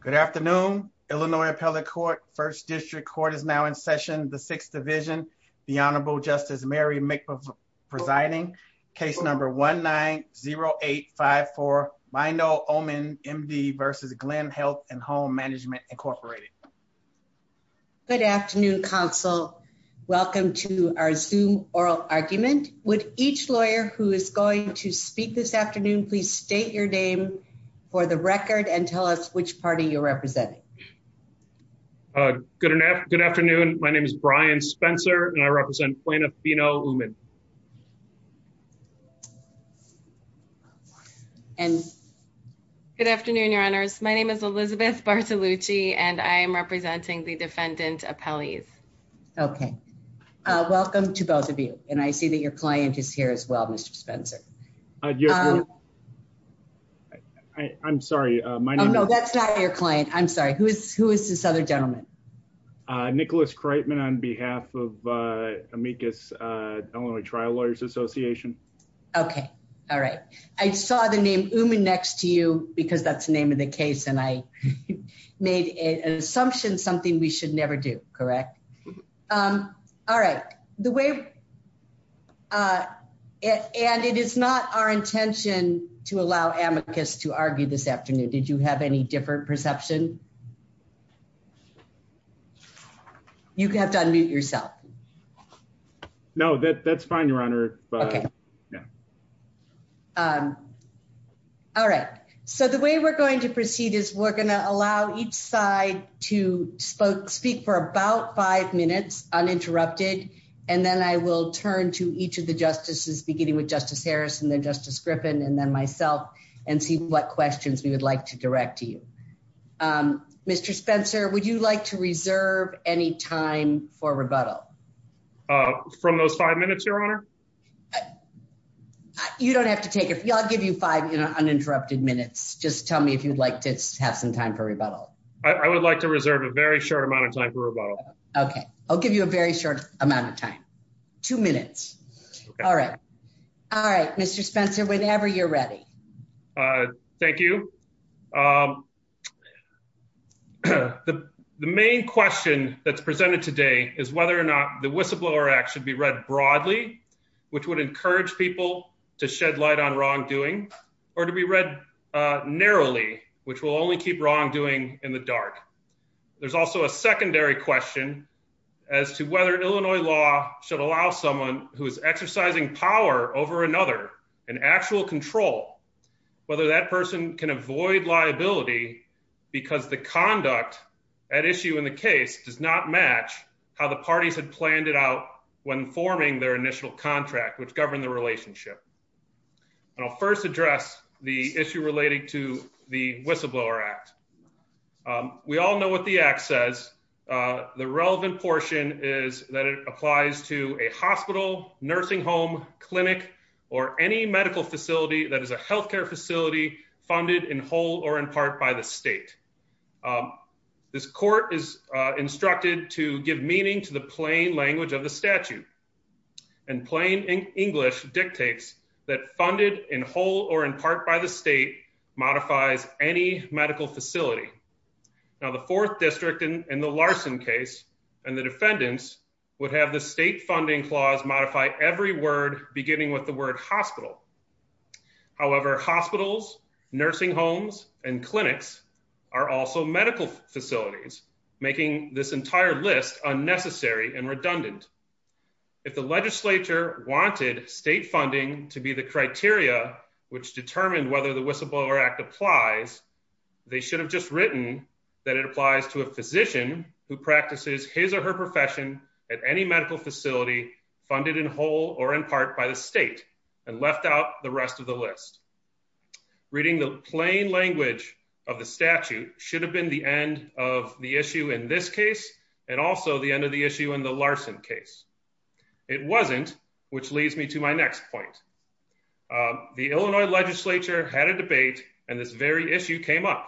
Good afternoon, Illinois Appellate Court, 1st District Court is now in session, the 6th Division, the Honorable Justice Mary McBeth presiding, case number 1-9-0-8-5-4, Mindo, Oman, MD vs. Glenn Health and Home Management Incorporated. Good afternoon, counsel. Welcome to our Zoom oral argument. Would each lawyer who is going to speak this afternoon, please state your name for the record and tell us which party you're representing. Good afternoon. My name is Brian Spencer and I represent Plano, Fino, Oman. Good afternoon, your honors. My name is Elizabeth Bartolucci and I am representing the Defendant Appellees. Okay. Welcome to both of you. And I see that your client is here as well, Mr. Spencer. I'm sorry. No, that's not your client. I'm sorry. Who is this other gentleman? Nicholas Kreitman on behalf of Amicus Illinois Trial Lawyers Association. Okay. All right. I saw the name Oman next to you because that's the name of the case and I made an assumption, something we should never do, correct? All right. The way, and it is not our intention to allow Amicus to argue this afternoon. Did you have any different perception? You have to unmute yourself. No, that's fine, your honor. All right. So the way we're going to proceed is we're going to allow each side to speak for about five minutes uninterrupted. And then I will turn to each of the justices, beginning with Justice Harris and then Justice Griffin and then myself and see what questions we would like to direct to you. Mr. Spencer, would you like to reserve any time for rebuttal? From those five minutes, your honor? You don't have to take it. I'll give you five uninterrupted minutes. Just tell me if you'd like to have some time for rebuttal. I would like to reserve a very short amount of time for rebuttal. Okay. I'll give you a very short amount of time. Two minutes. All right. All right. Mr. Spencer, whenever you're ready. Thank you. The main question that's presented today is whether or not the whistleblower act should be read broadly, which would encourage people to shed light on wrongdoing, or to be read narrowly, which will only keep wrongdoing in the dark. There's also a secondary question as to whether Illinois law should allow someone who is exercising power over another in actual control, whether that person can avoid liability, because the conduct at issue in the case does not match how the parties had planned it out when forming their initial contract, which governed the relationship. I'll first address the issue relating to the whistleblower act. We all know what the act says. The relevant portion is that it applies to a hospital, nursing home, clinic, or any medical facility that is a healthcare facility funded in whole or in part by the state. This court is instructed to give meaning to the plain language of the statute and plain English dictates that funded in whole or in part by the state modifies any medical facility. Now the fourth district in the Larson case, and the defendants would have the state funding clause modify every word beginning with the word hospital. However, hospitals, nursing homes and clinics are also medical facilities, making this entire list unnecessary and redundant. If the legislature wanted state funding to be the criteria, which determined whether the whistleblower act applies, they should have just written that it applies to a physician who practices his or her profession at any medical facility funded in whole or in part by the state and left out the rest of the list. Reading the plain language of the statute should have been the end of the issue in this case, and also the end of the issue in the Larson case. It wasn't, which leads me to my next point. The Illinois legislature had a debate, and this very issue came up.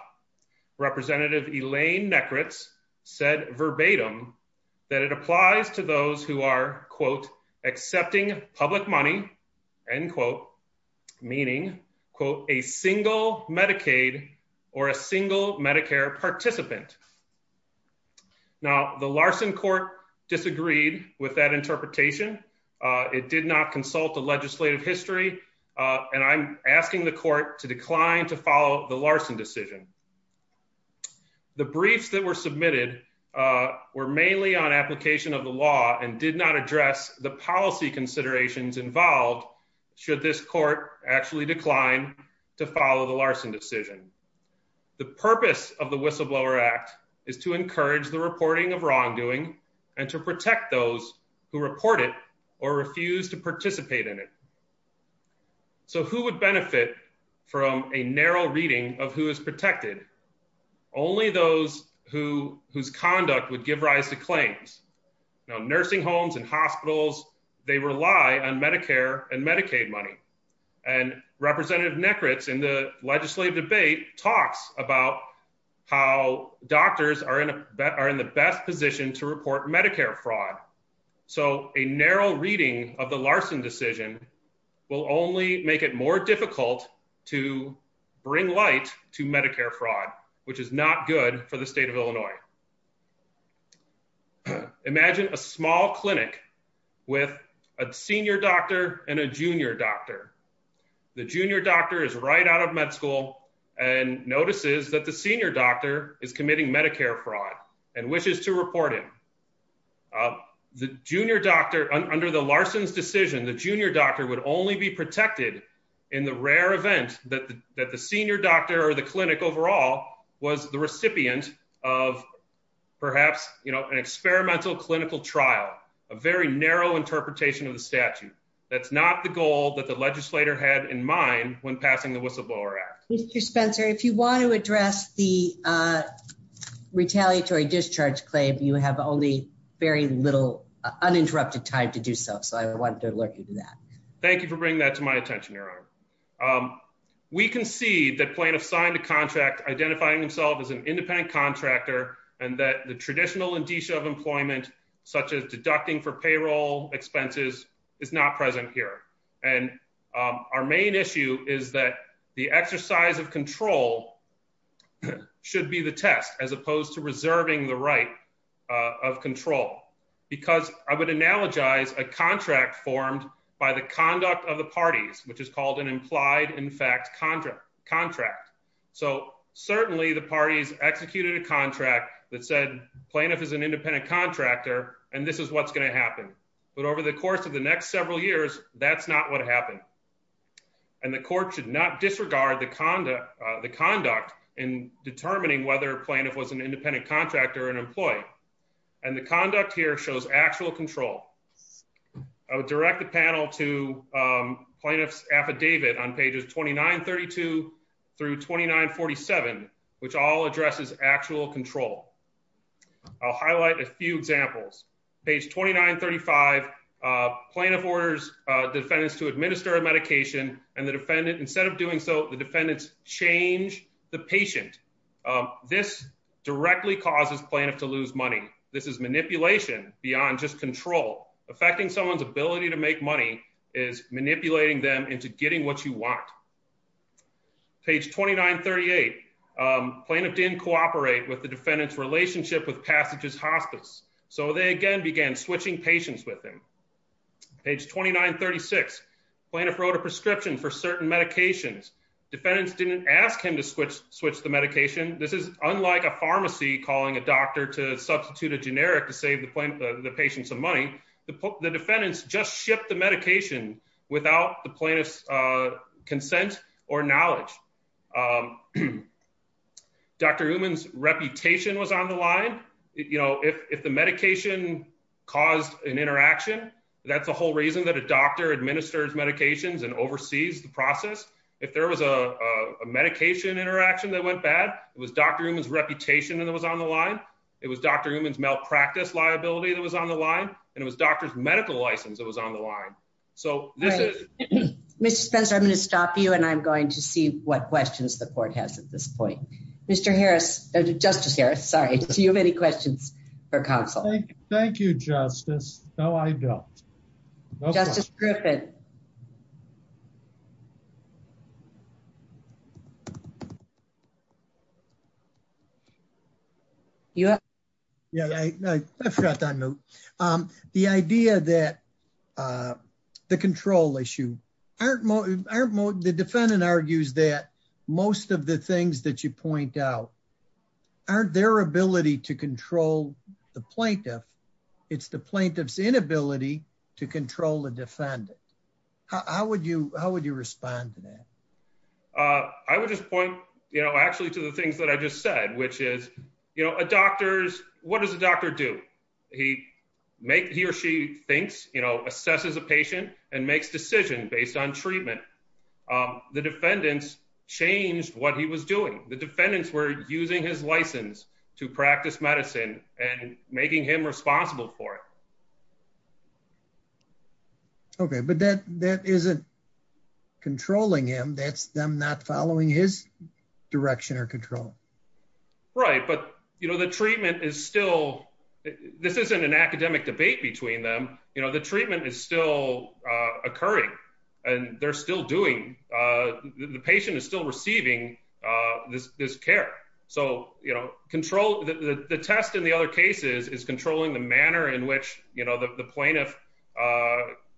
Representative Elaine Nekritz said verbatim that it applies to those who are, quote, accepting public money, end quote, meaning, quote, a single Medicaid or a single Medicare participant. Now, the Larson court disagreed with that interpretation. It did not consult the legislative history, and I'm asking the court to decline to follow the Larson decision. The briefs that were submitted were mainly on application of the law and did not address the policy considerations involved, should this court actually decline to follow the Larson decision. The purpose of the whistleblower act is to encourage the reporting of wrongdoing and to protect those who report it or refuse to participate in it. So who would benefit from a narrow reading of who is protected? Only those whose conduct would give rise to claims. Now, nursing homes and hospitals, they rely on Medicare and Medicaid money, and Representative Nekritz in the legislative debate talks about how doctors are in the best position to report Medicare fraud. So a narrow reading of the Larson decision will only make it more difficult to bring light to Medicare fraud, which is not good for the state of Illinois. Imagine a small clinic with a senior doctor and a junior doctor. The junior doctor is right out of med school and notices that the senior doctor is committing Medicare fraud and wishes to report him. Under the Larson decision, the junior doctor would only be protected in the rare event that the senior doctor or the clinic overall was the recipient of perhaps an experimental clinical trial, a very narrow interpretation of the statute. That's not the goal that the legislator had in mind when passing the whistleblower act. Mr. Spencer, if you want to address the retaliatory discharge claim, you have only very little uninterrupted time to do so, so I wanted to alert you to that. Thank you for bringing that to my attention, Your Honor. We concede that plaintiffs signed a contract identifying themselves as an independent contractor and that the traditional indicia of employment, such as deducting for payroll expenses, is not present here. Our main issue is that the exercise of control should be the test, as opposed to reserving the right of control, because I would analogize a contract formed by the conduct of the parties, which is called an implied-in-fact contract. So certainly the parties executed a contract that said plaintiff is an independent contractor and this is what's going to happen. But over the course of the next several years, that's not what happened. And the court should not disregard the conduct in determining whether a plaintiff was an independent contractor or an employee. And the conduct here shows actual control. I would direct the panel to plaintiff's affidavit on pages 2932 through 2947, which all addresses actual control. I'll highlight a few examples. Page 2935, plaintiff orders defendants to administer a medication and instead of doing so, the defendants change the patient. This directly causes plaintiff to lose money. This is manipulation beyond just control. Affecting someone's ability to make money is manipulating them into getting what you want. Page 2938, plaintiff didn't cooperate with the defendant's relationship with Passages Hospice, so they again began switching patients with him. Page 2936, plaintiff wrote a prescription for certain medications. Defendants didn't ask him to switch the medication. This is unlike a pharmacy calling a doctor to substitute a generic to save the patient some money. The defendants just shipped the medication without the plaintiff's consent or knowledge. Dr. Uman's reputation was on the line. You know, if the medication caused an interaction, that's the whole reason that a doctor administers medications and oversees the process. If there was a medication interaction that went bad, it was Dr. Uman's reputation that was on the line. It was Dr. Uman's malpractice liability that was on the line. And it was doctor's medical license that was on the line. So this is. Mr. Spencer, I'm going to stop you, and I'm going to see what questions the court has at this point. Mr. Harris, Justice Harris, sorry, do you have any questions for counsel? Thank you, Justice. No, I don't. Justice Griffin. Yeah. Yeah, I forgot that. The idea that the control issue. The defendant argues that most of the things that you point out aren't their ability to control the plaintiff. It's the plaintiff's inability to control the defendant. How would you how would you respond to that? I would just point, you know, actually to the things that I just said, which is, you know, a doctor's what does the doctor do? He make he or she thinks, you know, assesses a patient and makes decision based on treatment. The defendants changed what he was doing. The defendants were using his license to practice medicine and making him responsible for it. Okay, but that that isn't controlling him. That's them not following his direction or control. Right. But, you know, the treatment is still this isn't an academic debate between them. You know, the treatment is still occurring and they're still doing the patient is still receiving this care. So, you know, control the test in the other cases is controlling the manner in which, you know, the plaintiff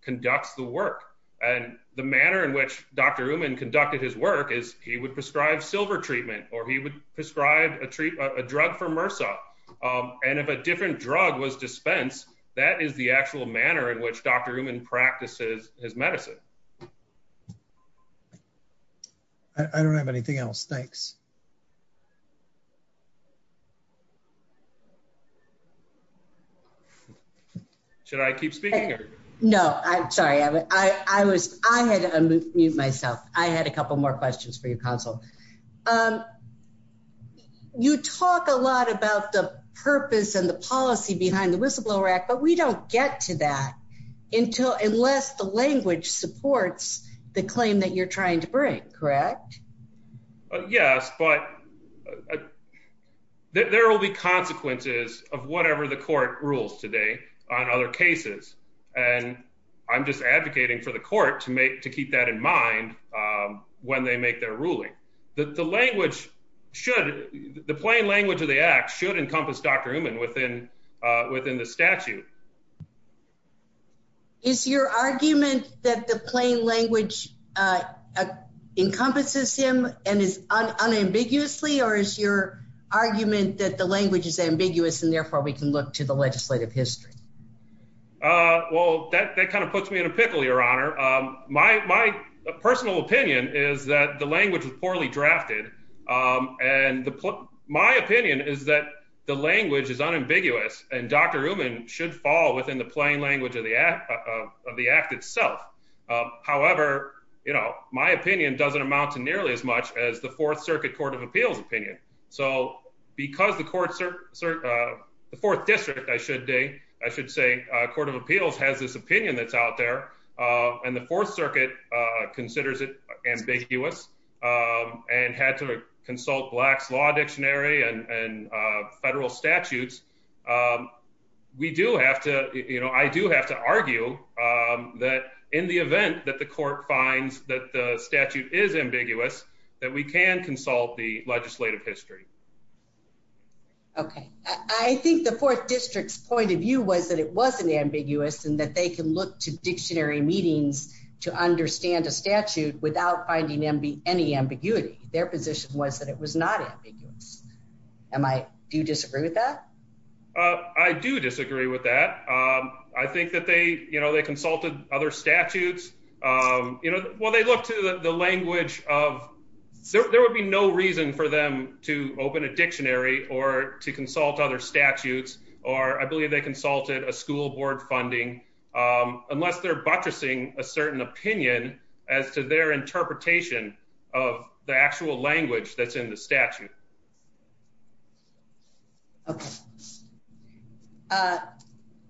conducts the work and the manner in which Dr. Newman conducted his work is he would prescribe silver treatment or he would prescribe a treat a drug for MRSA. And if a different drug was dispensed, that is the actual manner in which Dr. Newman practices his medicine. I don't have anything else. Thanks. Should I keep speaking? No, I'm sorry. I was I had to unmute myself. I had a couple more questions for your console. You talk a lot about the purpose and the policy behind the whistleblower act, but we don't get to that until unless the language supports the claim that you're trying to break. Correct. Yes, but There will be consequences of whatever the court rules today on other cases. And I'm just advocating for the court to make to keep that in mind when they make their ruling that the language should the plain language of the act should encompass Dr. Newman within within the statute. Is your argument that the plain language encompasses him and is unambiguously or is your argument that the language is ambiguous and therefore we can look to the legislative history. Well, that kind of puts me in a pickle, Your Honor. My, my personal opinion is that the language is poorly drafted. And the my opinion is that the language is unambiguous and Dr. Newman should fall within the plain language of the of the act itself. However, you know, my opinion doesn't amount to nearly as much as the Fourth Circuit Court of Appeals opinion. So because the courts are The fourth district, I should say, I should say, Court of Appeals has this opinion that's out there and the Fourth Circuit considers it ambiguous and had to consult blacks law dictionary and federal statutes. We do have to, you know, I do have to argue that in the event that the court finds that the statute is ambiguous that we can consult the legislative history. Okay, I think the fourth district's point of view was that it wasn't ambiguous and that they can look to dictionary meetings to understand a statute without finding them be any ambiguity, their position was that it was not ambiguous. Am I do disagree with that. I do disagree with that. I think that they, you know, they consulted other statutes, you know, well, they look to the language of There would be no reason for them to open a dictionary or to consult other statutes or I believe they consulted a school board funding unless they're buttressing a certain opinion as to their interpretation of the actual language that's in the statute.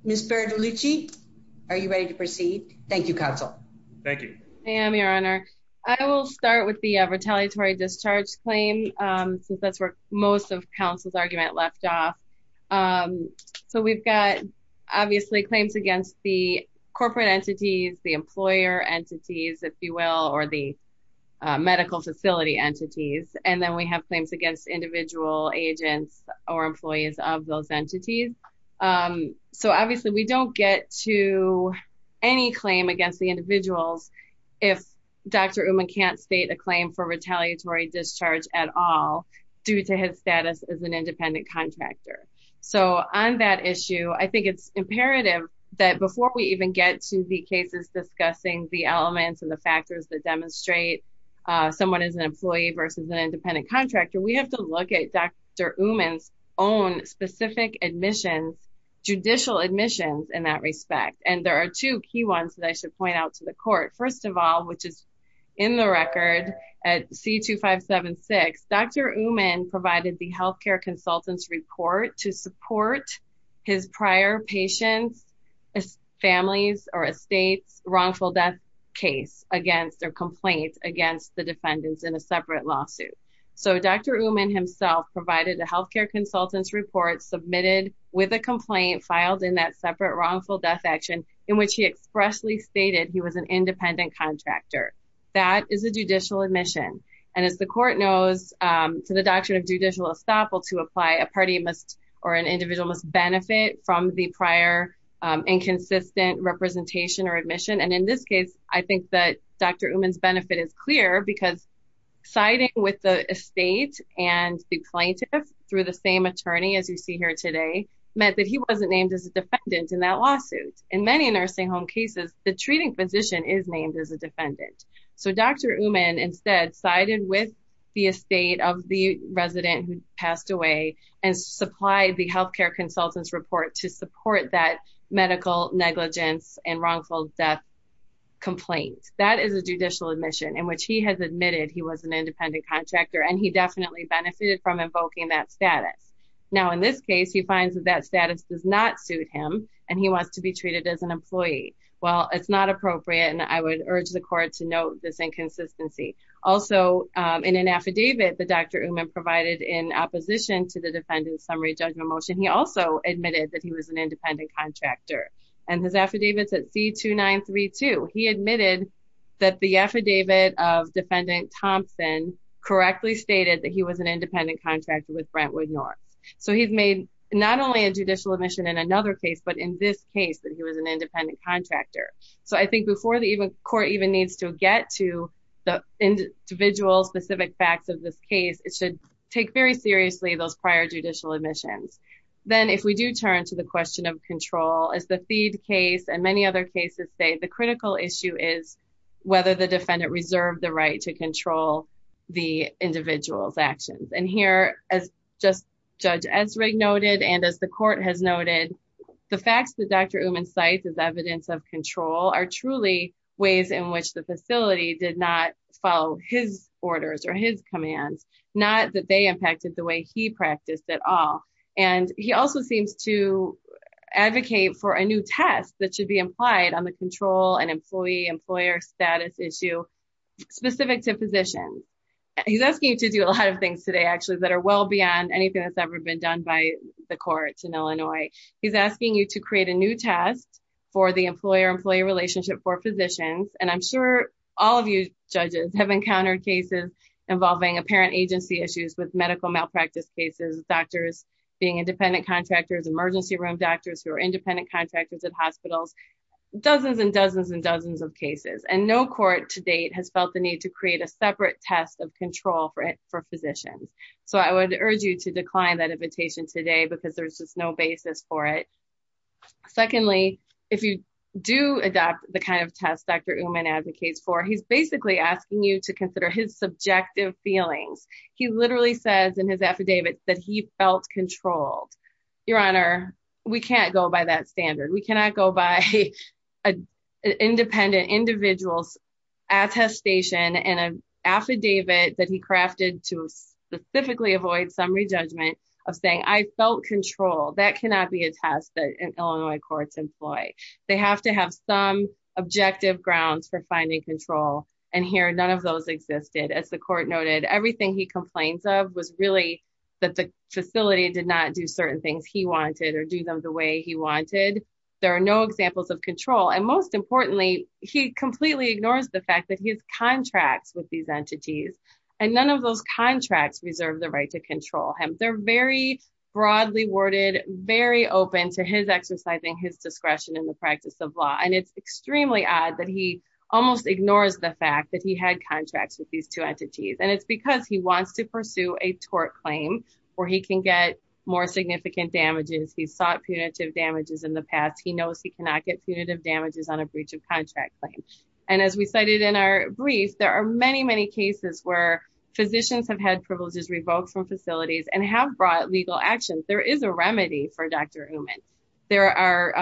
Ms. Bertolucci, are you ready to proceed. Thank you, counsel. Thank you. I am your honor. I will start with the retaliatory discharge claim. That's where most of counsel's argument left off. So we've got obviously claims against the corporate entities, the employer entities, if you will, or the medical facility entities and then we have claims against individual agents or employees of those entities. So obviously we don't get to any claim against the individuals. If Dr. Uman can't state a claim for retaliatory discharge at all due to his status as an independent contractor. So on that issue, I think it's imperative that before we even get to the cases discussing the elements and the factors that demonstrate Someone is an employee versus an independent contractor. We have to look at Dr. Uman's own specific admissions Judicial admissions in that respect. And there are two key ones that I should point out to the court. First of all, which is In the record at C-2576, Dr. Uman provided the healthcare consultants report to support his prior patients, Families, or estates wrongful death case against their complaints against the defendants in a separate lawsuit. So Dr. Uman himself provided the healthcare consultants report submitted with a complaint filed in that separate wrongful death action in which he expressly stated he was an independent contractor. That is a judicial admission. And as the court knows to the doctrine of judicial estoppel to apply a party must or an individual must benefit from the prior Inconsistent representation or admission. And in this case, I think that Dr. Uman's benefit is clear because Siding with the estate and the plaintiff through the same attorney, as you see here today, meant that he wasn't named as a defendant in that lawsuit. In many nursing home cases, the treating physician is named as a defendant. So Dr. Uman instead sided with the estate of the resident who passed away and supplied the healthcare consultants report to support that medical negligence and wrongful death Complaint. That is a judicial admission in which he has admitted he was an independent contractor and he definitely benefited from invoking that status. Now, in this case, he finds that that status does not suit him and he wants to be treated as an employee. Well, it's not appropriate and I would urge the court to note this inconsistency. Also, in an affidavit that Dr. Uman provided in opposition to the defendant summary judgment motion. He also admitted that he was an independent contractor and his affidavits at C-2932. He admitted that the affidavit of defendant Thompson correctly stated that he was an independent contractor with Brentwood North. So he's made not only a judicial admission in another case, but in this case that he was an independent contractor. So I think before the court even needs to get to the individual specific facts of this case, it should take very seriously those prior judicial admissions. Then if we do turn to the question of control as the feed case and many other cases say the critical issue is whether the defendant reserved the right to control the individual's actions. And here, as just Judge Ezrig noted, and as the court has noted, the facts that Dr. Uman cites as evidence of control are truly ways in which the facility did not follow his orders or his commands. Not that they impacted the way he practiced at all. And he also seems to advocate for a new test that should be implied on the control and employee-employer status issue specific to positions. He's asking you to do a lot of things today, actually, that are well beyond anything that's ever been done by the courts in Illinois. He's asking you to create a new test for the employer-employee relationship for physicians. And I'm sure all of you judges have encountered cases involving apparent agency issues with medical malpractice cases. Doctors being independent contractors, emergency room doctors who are independent contractors at hospitals. Dozens and dozens and dozens of cases and no court to date has felt the need to create a separate test of control for physicians. So I would urge you to decline that invitation today because there's just no basis for it. Secondly, if you do adopt the kind of test Dr. Uman advocates for, he's basically asking you to consider his subjective feelings. He literally says in his affidavit that he felt controlled. Your Honor, we can't go by that standard. We cannot go by an independent individual's attestation and an affidavit that he crafted to specifically avoid summary judgment of saying I felt control. That cannot be a test that Illinois courts employ. They have to have some objective grounds for finding control. And here, none of those existed. As the court noted, everything he complains of was really that the facility did not do certain things he wanted or do them the way he wanted. There are no examples of control. And most importantly, he completely ignores the fact that he has contracts with these entities. And none of those contracts reserve the right to control him. They're very broadly worded, very open to his exercising his discretion in the practice of law. And it's extremely odd that he almost ignores the fact that he had contracts with these two entities. And it's because he wants to pursue a tort claim where he can get more significant damages. He's sought punitive damages in the past. He knows he cannot get punitive damages on a breach of contract claim. And as we cited in our brief, there are many, many cases where physicians have had privileges revoked from facilities and have brought legal action. There is a remedy for Dr. Uman. There are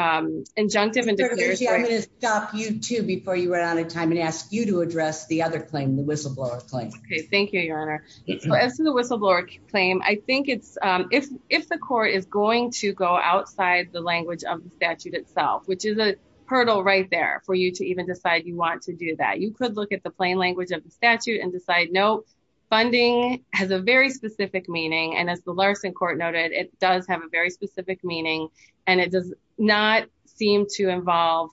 injunctive. I'm going to stop you, too, before you run out of time and ask you to address the other claim, the whistleblower claim. Thank you, Your Honor. As to the whistleblower claim, I think it's if the court is going to go outside the language of the statute itself, which is a hurdle right there for you to even decide you want to do that. You could look at the plain language of the statute and decide, no, funding has a very specific meaning. And as the Larson court noted, it does have a very specific meaning and it does not seem to involve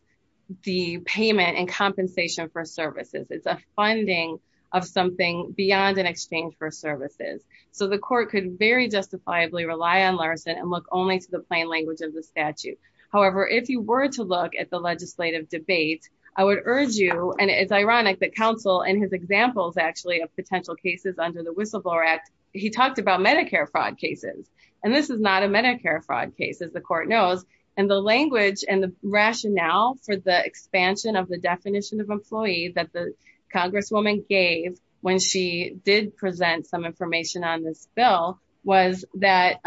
the payment and compensation for services. It's a funding of something beyond an exchange for services. So the court could very justifiably rely on Larson and look only to the plain language of the statute. However, if you were to look at the legislative debate, I would urge you and it's ironic that counsel and his examples actually of potential cases under the whistleblower act. He talked about Medicare fraud cases, and this is not a Medicare fraud case, as the court knows. And the language and the rationale for the expansion of the definition of employee that the congresswoman gave when she did present some information on this bill was that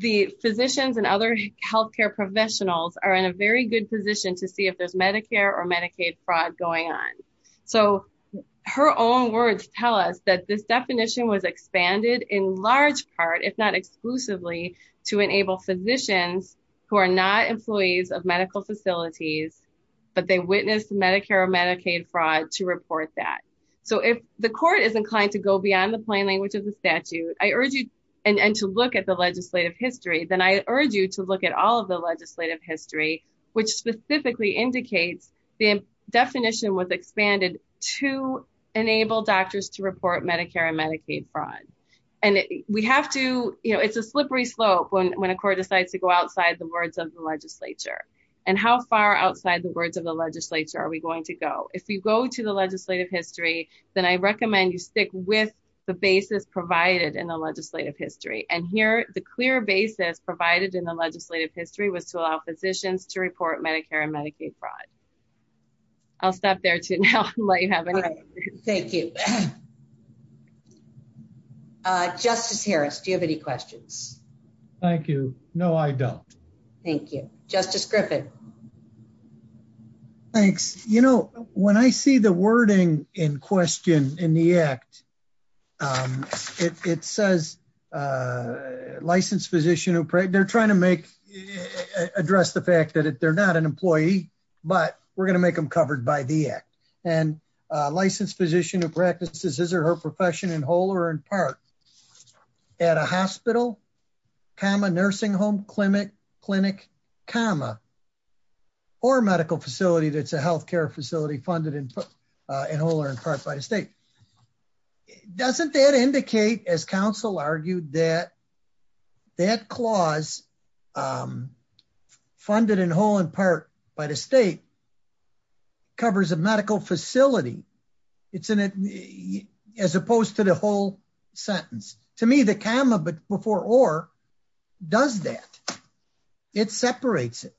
the physicians and other health care professionals are in a very good position to see if there's Medicare or Medicaid fraud going on. So her own words tell us that this definition was expanded in large part, if not exclusively, to enable physicians who are not employees of medical facilities, but they witnessed Medicare or Medicaid fraud to report that. So if the court is inclined to go beyond the plain language of the statute, I urge you and to look at the legislative history. Then I urge you to look at all of the legislative history, which specifically indicates the definition was expanded to enable doctors to report Medicare and Medicaid fraud. And we have to, you know, it's a slippery slope when a court decides to go outside the words of the legislature. And how far outside the words of the legislature are we going to go? If you go to the legislative history, then I recommend you stick with the basis provided in the legislative history. And here, the clear basis provided in the legislative history was to allow physicians to report Medicare and Medicaid fraud. I'll stop there to now let you have any questions. Thank you. Justice Harris, do you have any questions? Thank you. No, I don't. Thank you. Justice Griffin. Thanks. You know, when I see the wording in question in the act, it says, Licensed physician who prayed, they're trying to make address the fact that they're not an employee, but we're going to make them covered by the act. And licensed physician who practices his or her profession in whole or in part at a hospital, comma, nursing home, clinic, clinic, comma, or medical facility that's a health care facility funded in whole or in part by the state. Doesn't that indicate, as counsel argued, that that clause funded in whole in part by the state covers a medical facility? It's as opposed to the whole sentence. To me, the comma before or does that. It separates it.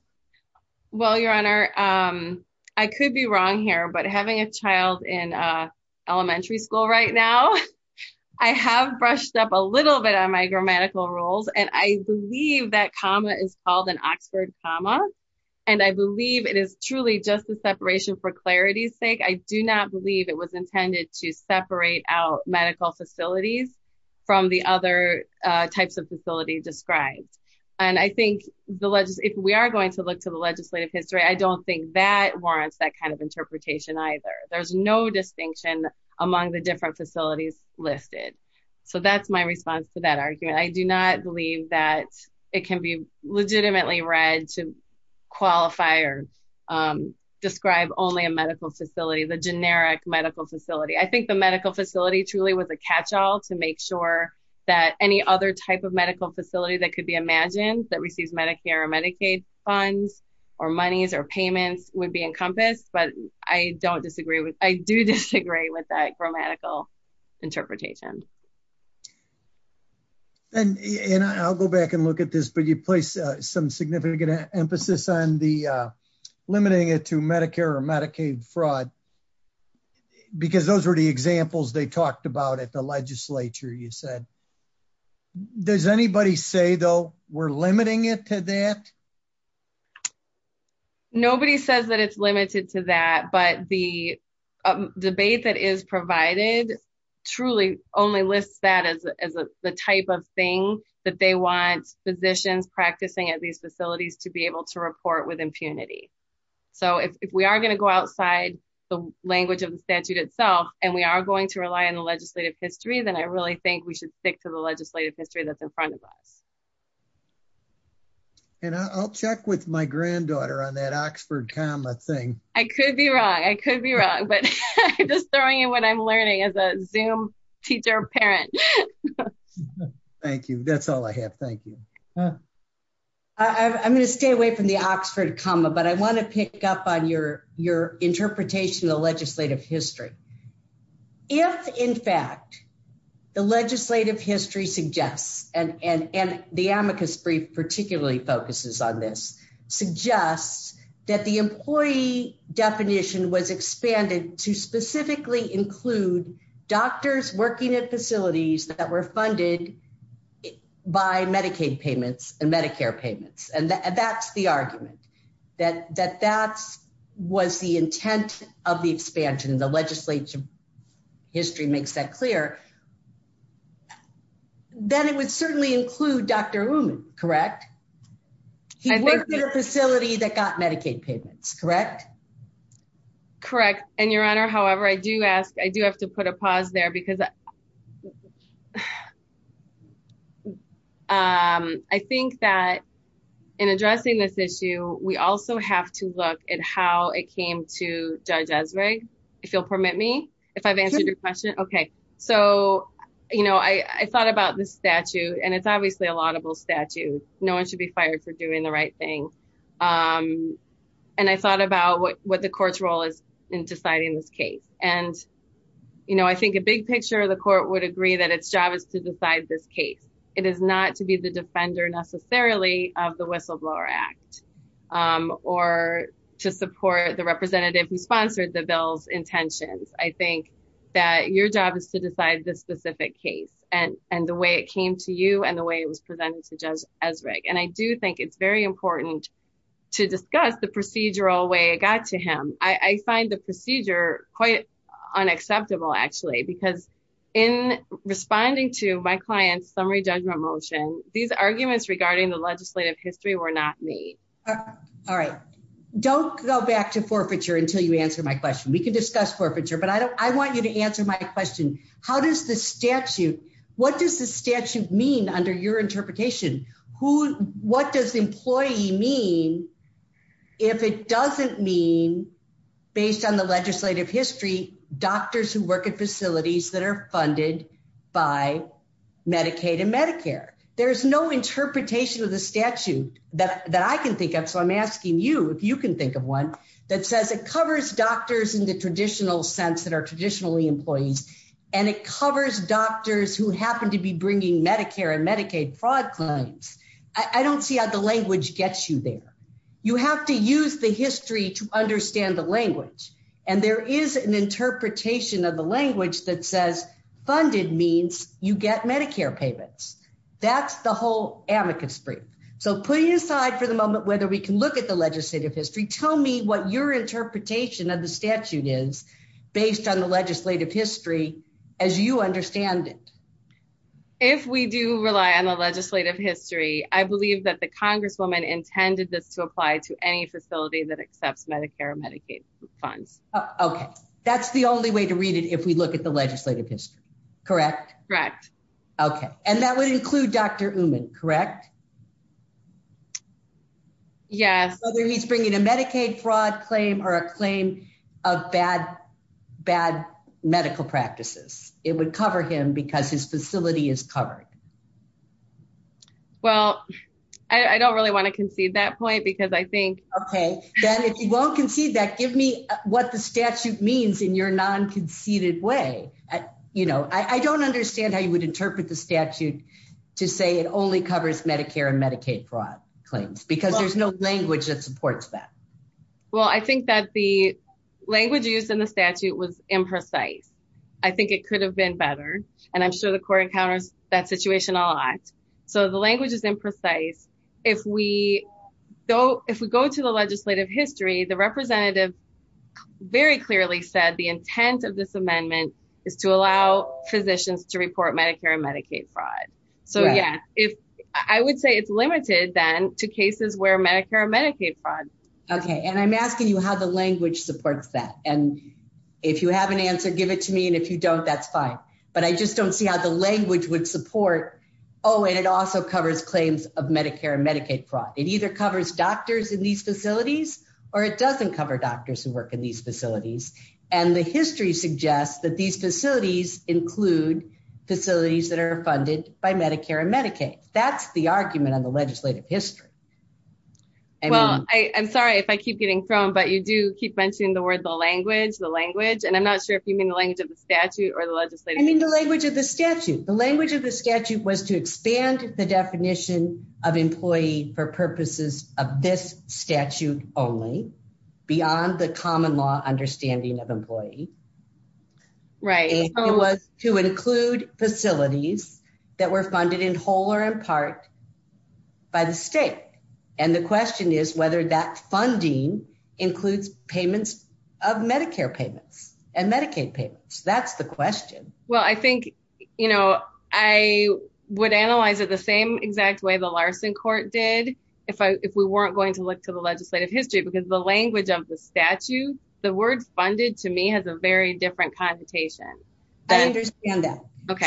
Well, Your Honor, I could be wrong here, but having a child in elementary school right now, I have brushed up a little bit on my grammatical rules, and I believe that comma is called an Oxford comma. And I believe it is truly just the separation for clarity's sake. I do not believe it was intended to separate out medical facilities from the other types of facility described. And I think if we are going to look to the legislative history, I don't think that warrants that kind of interpretation either. There's no distinction among the different facilities listed. So that's my response to that argument. I do not believe that it can be legitimately read to qualify or describe only a medical facility, the generic medical facility. I think the medical facility truly was a catch-all to make sure that any other type of medical facility that could be imagined that receives Medicare or Medicaid funds or monies or payments would be encompassed. But I do disagree with that grammatical interpretation. And I'll go back and look at this, but you place some significant emphasis on limiting it to Medicare or Medicaid fraud. Because those were the examples they talked about at the legislature, you said. Does anybody say, though, we're limiting it to that? Nobody says that it's limited to that, but the debate that is provided truly only lists that as the type of thing that they want physicians practicing at these facilities to be able to report with impunity. So if we are going to go outside the language of the statute itself, and we are going to rely on the legislative history, then I really think we should stick to the legislative history that's in front of us. And I'll check with my granddaughter on that Oxford comma thing. I could be wrong. I could be wrong, but I'm just throwing in what I'm learning as a Zoom teacher parent. Thank you. That's all I have. Thank you. I'm going to stay away from the Oxford comma, but I want to pick up on your interpretation of the legislative history. If, in fact, the legislative history suggests, and the amicus brief particularly focuses on this, suggests that the employee definition was expanded to specifically include doctors working at facilities that were funded by Medicaid payments and Medicare payments. And that's the argument, that that was the intent of the expansion. The legislative history makes that clear. Then it would certainly include Dr. Uman, correct? He worked at a facility that got Medicaid payments, correct? Correct. And Your Honor, however, I do ask, I do have to put a pause there because I think that in addressing this issue, we also have to look at how it came to Judge Ezra, if you'll permit me, if I've answered your question. Okay. So, you know, I thought about this statute, and it's obviously a laudable statute. No one should be fired for doing the right thing. And I thought about what the court's role is in deciding this case. And, you know, I think a big picture of the court would agree that its job is to decide this case. It is not to be the defender necessarily of the whistleblower act or to support the representative who sponsored the bill's intentions. I think that your job is to decide this specific case and the way it came to you and the way it was presented to Judge Ezra. And I do think it's very important to discuss the procedural way it got to him. I find the procedure quite unacceptable, actually, because in responding to my client's summary judgment motion, these arguments regarding the legislative history were not made. All right. Don't go back to forfeiture until you answer my question. We can discuss forfeiture, but I want you to answer my question. How does the statute, what does the statute mean under your interpretation? What does employee mean if it doesn't mean, based on the legislative history, doctors who work at facilities that are funded by Medicaid and Medicare? There's no interpretation of the statute that I can think of. So I'm asking you if you can think of one that says it covers doctors in the traditional sense that are traditionally employees. And it covers doctors who happen to be bringing Medicare and Medicaid fraud claims. I don't see how the language gets you there. You have to use the history to understand the language. And there is an interpretation of the language that says funded means you get Medicare payments. That's the whole amicus brief. So putting aside for the moment whether we can look at the legislative history, tell me what your interpretation of the statute is based on the legislative history as you understand it. If we do rely on the legislative history, I believe that the Congresswoman intended this to apply to any facility that accepts Medicare and Medicaid funds. Okay. That's the only way to read it if we look at the legislative history. Correct? Correct. Okay. And that would include Dr. Uman, correct? Yes. Whether he's bringing a Medicaid fraud claim or a claim of bad medical practices. It would cover him because his facility is covered. Well, I don't really want to concede that point because I think… Okay. Then if you won't concede that, give me what the statute means in your non-conceded way. I don't understand how you would interpret the statute to say it only covers Medicare and Medicaid fraud claims because there's no language that supports that. Well, I think that the language used in the statute was imprecise. I think it could have been better. And I'm sure the court encounters that situation a lot. So, the language is imprecise. If we go to the legislative history, the representative very clearly said the intent of this amendment is to allow physicians to report Medicare and Medicaid fraud. So, yes. I would say it's limited then to cases where Medicare and Medicaid fraud. Okay. And I'm asking you how the language supports that. And if you have an answer, give it to me. And if you don't, that's fine. But I just don't see how the language would support, oh, and it also covers claims of Medicare and Medicaid fraud. It either covers doctors in these facilities or it doesn't cover doctors who work in these facilities. And the history suggests that these facilities include facilities that are funded by Medicare and Medicaid. That's the argument on the legislative history. Well, I'm sorry if I keep getting thrown, but you do keep mentioning the word the language, the language. And I'm not sure if you mean the language of the statute or the legislative history. I mean the language of the statute. The language of the statute was to expand the definition of employee for purposes of this statute only beyond the common law understanding of employee. Right. It was to include facilities that were funded in whole or in part by the state. And the question is whether that funding includes payments of Medicare payments and Medicaid payments. That's the question. Well, I think, you know, I would analyze it the same exact way the Larson Court did if we weren't going to look to the legislative history. Because the language of the statute, the word funded to me has a very different connotation. I understand that.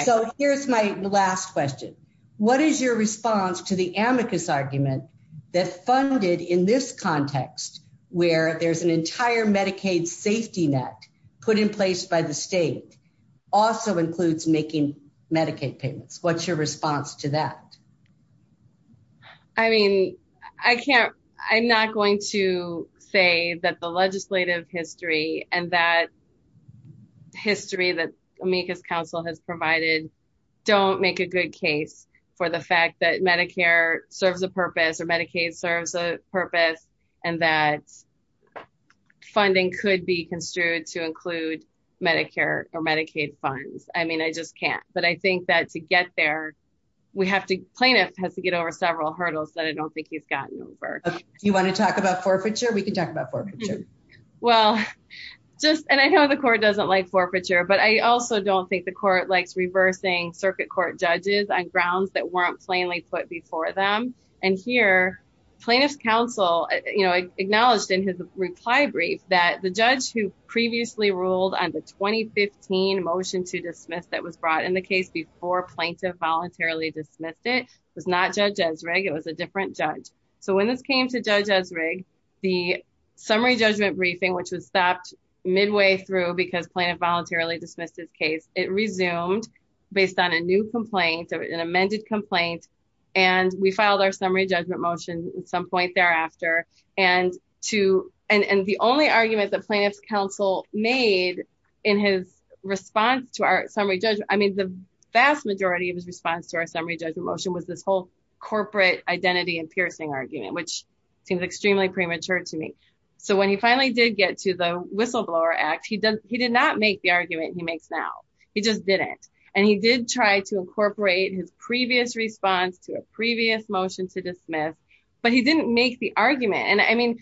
So here's my last question. What is your response to the amicus argument that funded in this context where there's an entire Medicaid safety net put in place by the state also includes making Medicaid payments. What's your response to that? I mean, I can't. I'm not going to say that the legislative history and that history that amicus council has provided don't make a good case for the fact that Medicare serves a purpose or Medicaid serves a purpose and that funding could be construed to include Medicare or Medicaid funds. I mean, I just can't. But I think that to get there, we have to plaintiff has to get over several hurdles that I don't think he's gotten over. You want to talk about forfeiture. We can talk about forfeiture. Well, just and I know the court doesn't like forfeiture, but I also don't think the court likes reversing circuit court judges on grounds that weren't plainly put before them. And here plaintiff's counsel, you know, acknowledged in his reply brief that the judge who previously ruled on the 2015 motion to dismiss that was brought in the case before plaintiff voluntarily dismissed it was not Judge Ezrig. It was a different judge. So when this came to Judge Ezrig, the summary judgment briefing, which was stopped midway through because plaintiff voluntarily dismissed his case, it resumed based on a new complaint or an amended complaint. And we filed our summary judgment motion at some point thereafter. And the only argument that plaintiff's counsel made in his response to our summary judgment, I mean, the vast majority of his response to our summary judgment motion was this whole corporate identity and piercing argument, which seems extremely premature to me. So when he finally did get to the whistleblower act, he did not make the argument he makes now. He just didn't. And he did try to incorporate his previous response to a previous motion to dismiss, but he didn't make the argument. And I mean,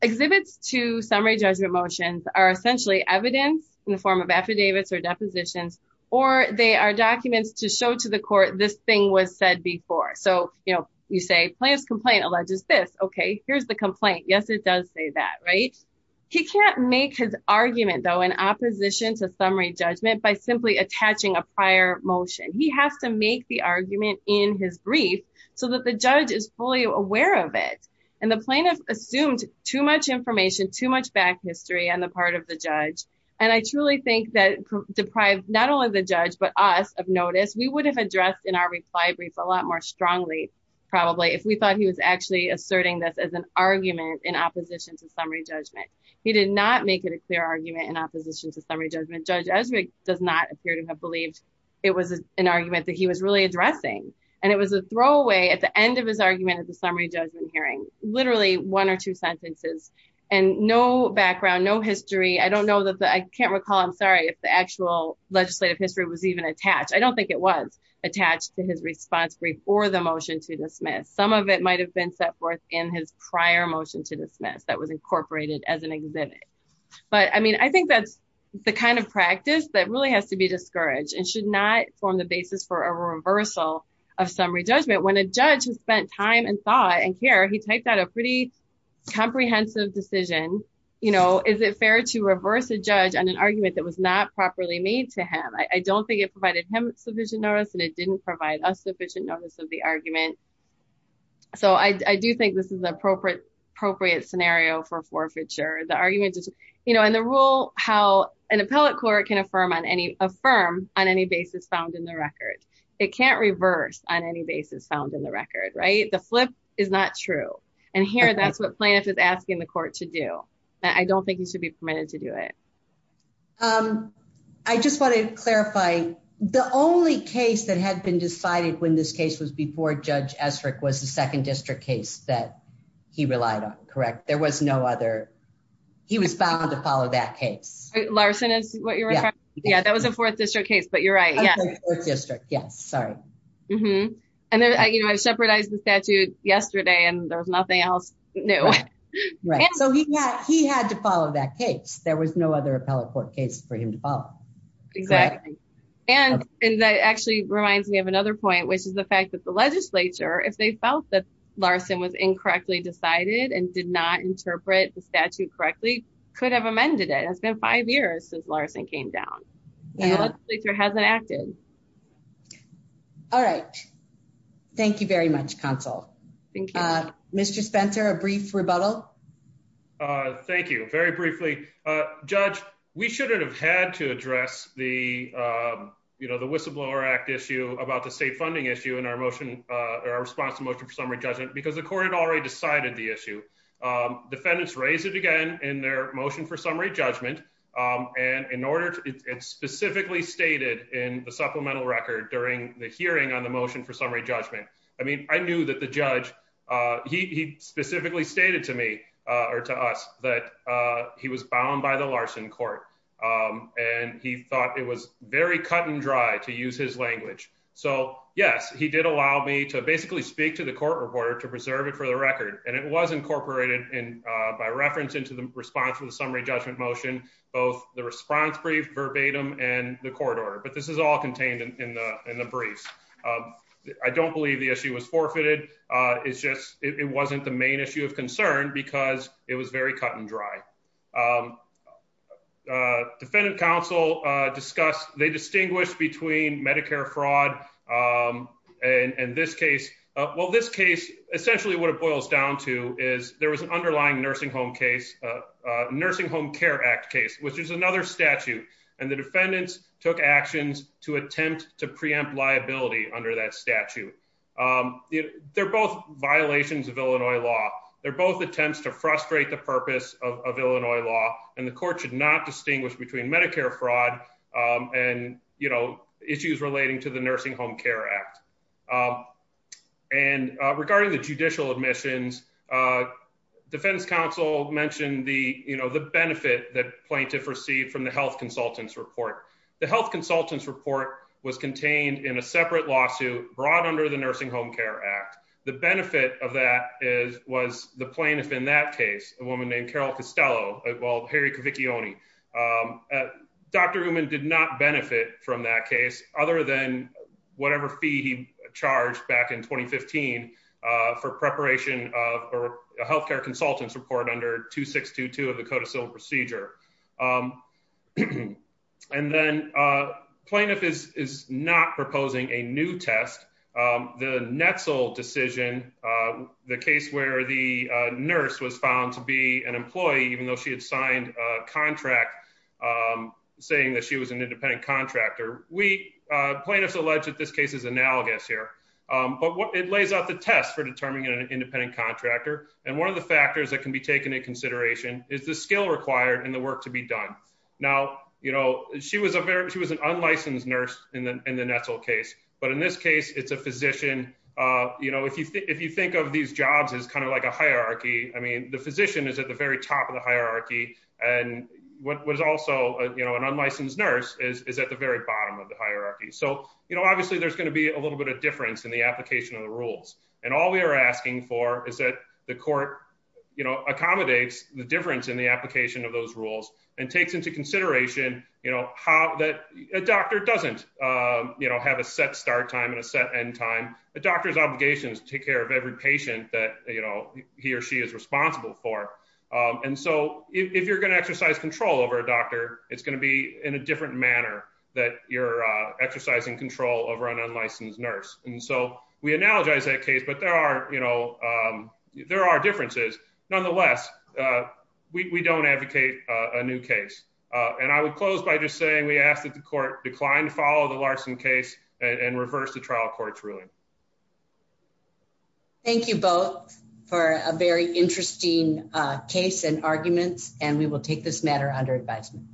exhibits to summary judgment motions are essentially evidence in the form of affidavits or depositions, or they are documents to show to the court this thing was said before. So, you know, you say plaintiff's complaint alleges this. Okay, here's the complaint. Yes, it does say that, right? He can't make his argument, though, in opposition to summary judgment by simply attaching a prior motion. He has to make the argument in his brief so that the judge is fully aware of it. And the plaintiff assumed too much information, too much back history on the part of the judge. And I truly think that deprived not only the judge, but us of notice, we would have addressed in our reply brief a lot more strongly, probably, if we thought he was actually asserting this as an argument in opposition to summary judgment. He did not make it a clear argument in opposition to summary judgment. Judge Ezrig does not appear to have believed it was an argument that he was really addressing. And it was a throwaway at the end of his argument at the summary judgment hearing, literally one or two sentences, and no background, no history. I don't know that I can't recall. I'm sorry if the actual legislative history was even attached. I don't think it was attached to his response brief or the motion to dismiss. Some of it might have been set forth in his prior motion to dismiss that was incorporated as an exhibit. But I mean, I think that's the kind of practice that really has to be discouraged and should not form the basis for a reversal of summary judgment. When a judge has spent time and thought and care, he typed out a pretty comprehensive decision. Is it fair to reverse a judge on an argument that was not properly made to him? I don't think it provided him sufficient notice and it didn't provide us sufficient notice of the argument. So I do think this is an appropriate scenario for forfeiture. The argument is, you know, in the rule, how an appellate court can affirm on any basis found in the record. It can't reverse on any basis found in the record, right? The flip is not true. And here, that's what plaintiff is asking the court to do. I don't think you should be permitted to do it. I just want to clarify the only case that had been decided when this case was before Judge Estrick was the second district case that he relied on. Correct. There was no other. He was bound to follow that case. Larson is what you're. Yeah, that was a fourth district case. But you're right. Yeah. District. Yes. Sorry. You know, I shepherdized the statute yesterday and there's nothing else new. Right. So he had to follow that case. There was no other appellate court case for him to follow. Exactly. And that actually reminds me of another point, which is the fact that the legislature, if they felt that Larson was incorrectly decided and did not interpret the statute correctly, could have amended it. It's been five years since Larson came down. The legislature hasn't acted. All right. Thank you very much, counsel. Mr. Spencer, a brief rebuttal. Thank you. Very briefly, Judge, we shouldn't have had to address the, you know, the whistleblower act issue about the state funding issue in our motion or response to motion for summary judgment because the court had already decided the issue. Defendants raise it again in their motion for summary judgment. And in order to specifically stated in the supplemental record during the hearing on the motion for summary judgment. I mean, I knew that the judge He specifically stated to me or to us that he was bound by the Larson court. And he thought it was very cut and dry to use his language. So, yes, he did allow me to basically speak to the court reporter to preserve it for the record and it was incorporated in By reference into the response to the summary judgment motion, both the response brief verbatim and the court order, but this is all contained in the in the briefs. I don't believe the issue was forfeited. It's just, it wasn't the main issue of concern because it was very cut and dry. Defendant counsel discuss they distinguish between Medicare fraud. And this case. Well, this case, essentially what it boils down to is there was an underlying nursing home case. Nursing Home Care Act case, which is another statute and the defendants took actions to attempt to preempt liability under that statute. They're both violations of Illinois law. They're both attempts to frustrate the purpose of Illinois law and the court should not distinguish between Medicare fraud and, you know, issues relating to the Nursing Home Care Act. And regarding the judicial admissions. Defense Council mentioned the, you know, the benefit that plaintiff received from the health consultants report. The health consultants report was contained in a separate lawsuit brought under the Nursing Home Care Act. The benefit of that is was the plaintiff in that case, a woman named Carol Costello. Well, Harry Cavicchione Dr. Uman did not benefit from that case, other than whatever fee he charged back in 2015 for preparation of a health care consultants report under 2622 of the code of civil procedure. And then a plaintiff is is not proposing a new test. The Netzel decision, the case where the nurse was found to be an employee, even though she had signed a contract. Saying that she was an independent contractor. We plaintiffs allege that this case is analogous here. But what it lays out the test for determining an independent contractor. And one of the factors that can be taken into consideration is the skill required and the work to be done. Now, you know, she was a very, she was an unlicensed nurse in the Netzel case, but in this case, it's a physician. You know, if you if you think of these jobs is kind of like a hierarchy. I mean, the physician is at the very top of the hierarchy. And what was also, you know, an unlicensed nurse is at the very bottom of the hierarchy. So, you know, obviously, there's going to be a little bit of difference in the application of the rules. And all we are asking for is that the court, you know, accommodates the difference in the application of those rules and takes into consideration, you know, how that a doctor doesn't, you know, have a set start time and a set end time. The doctor's obligations to take care of every patient that, you know, he or she is responsible for. And so, if you're going to exercise control over a doctor, it's going to be in a different manner that you're exercising control over an unlicensed nurse. And so, we analogize that case, but there are, you know, there are differences. Nonetheless, we don't advocate a new case. And I would close by just saying we ask that the court decline to follow the Larson case and reverse the trial court's ruling. Thank you both for a very interesting case and arguments, and we will take this matter under advisement.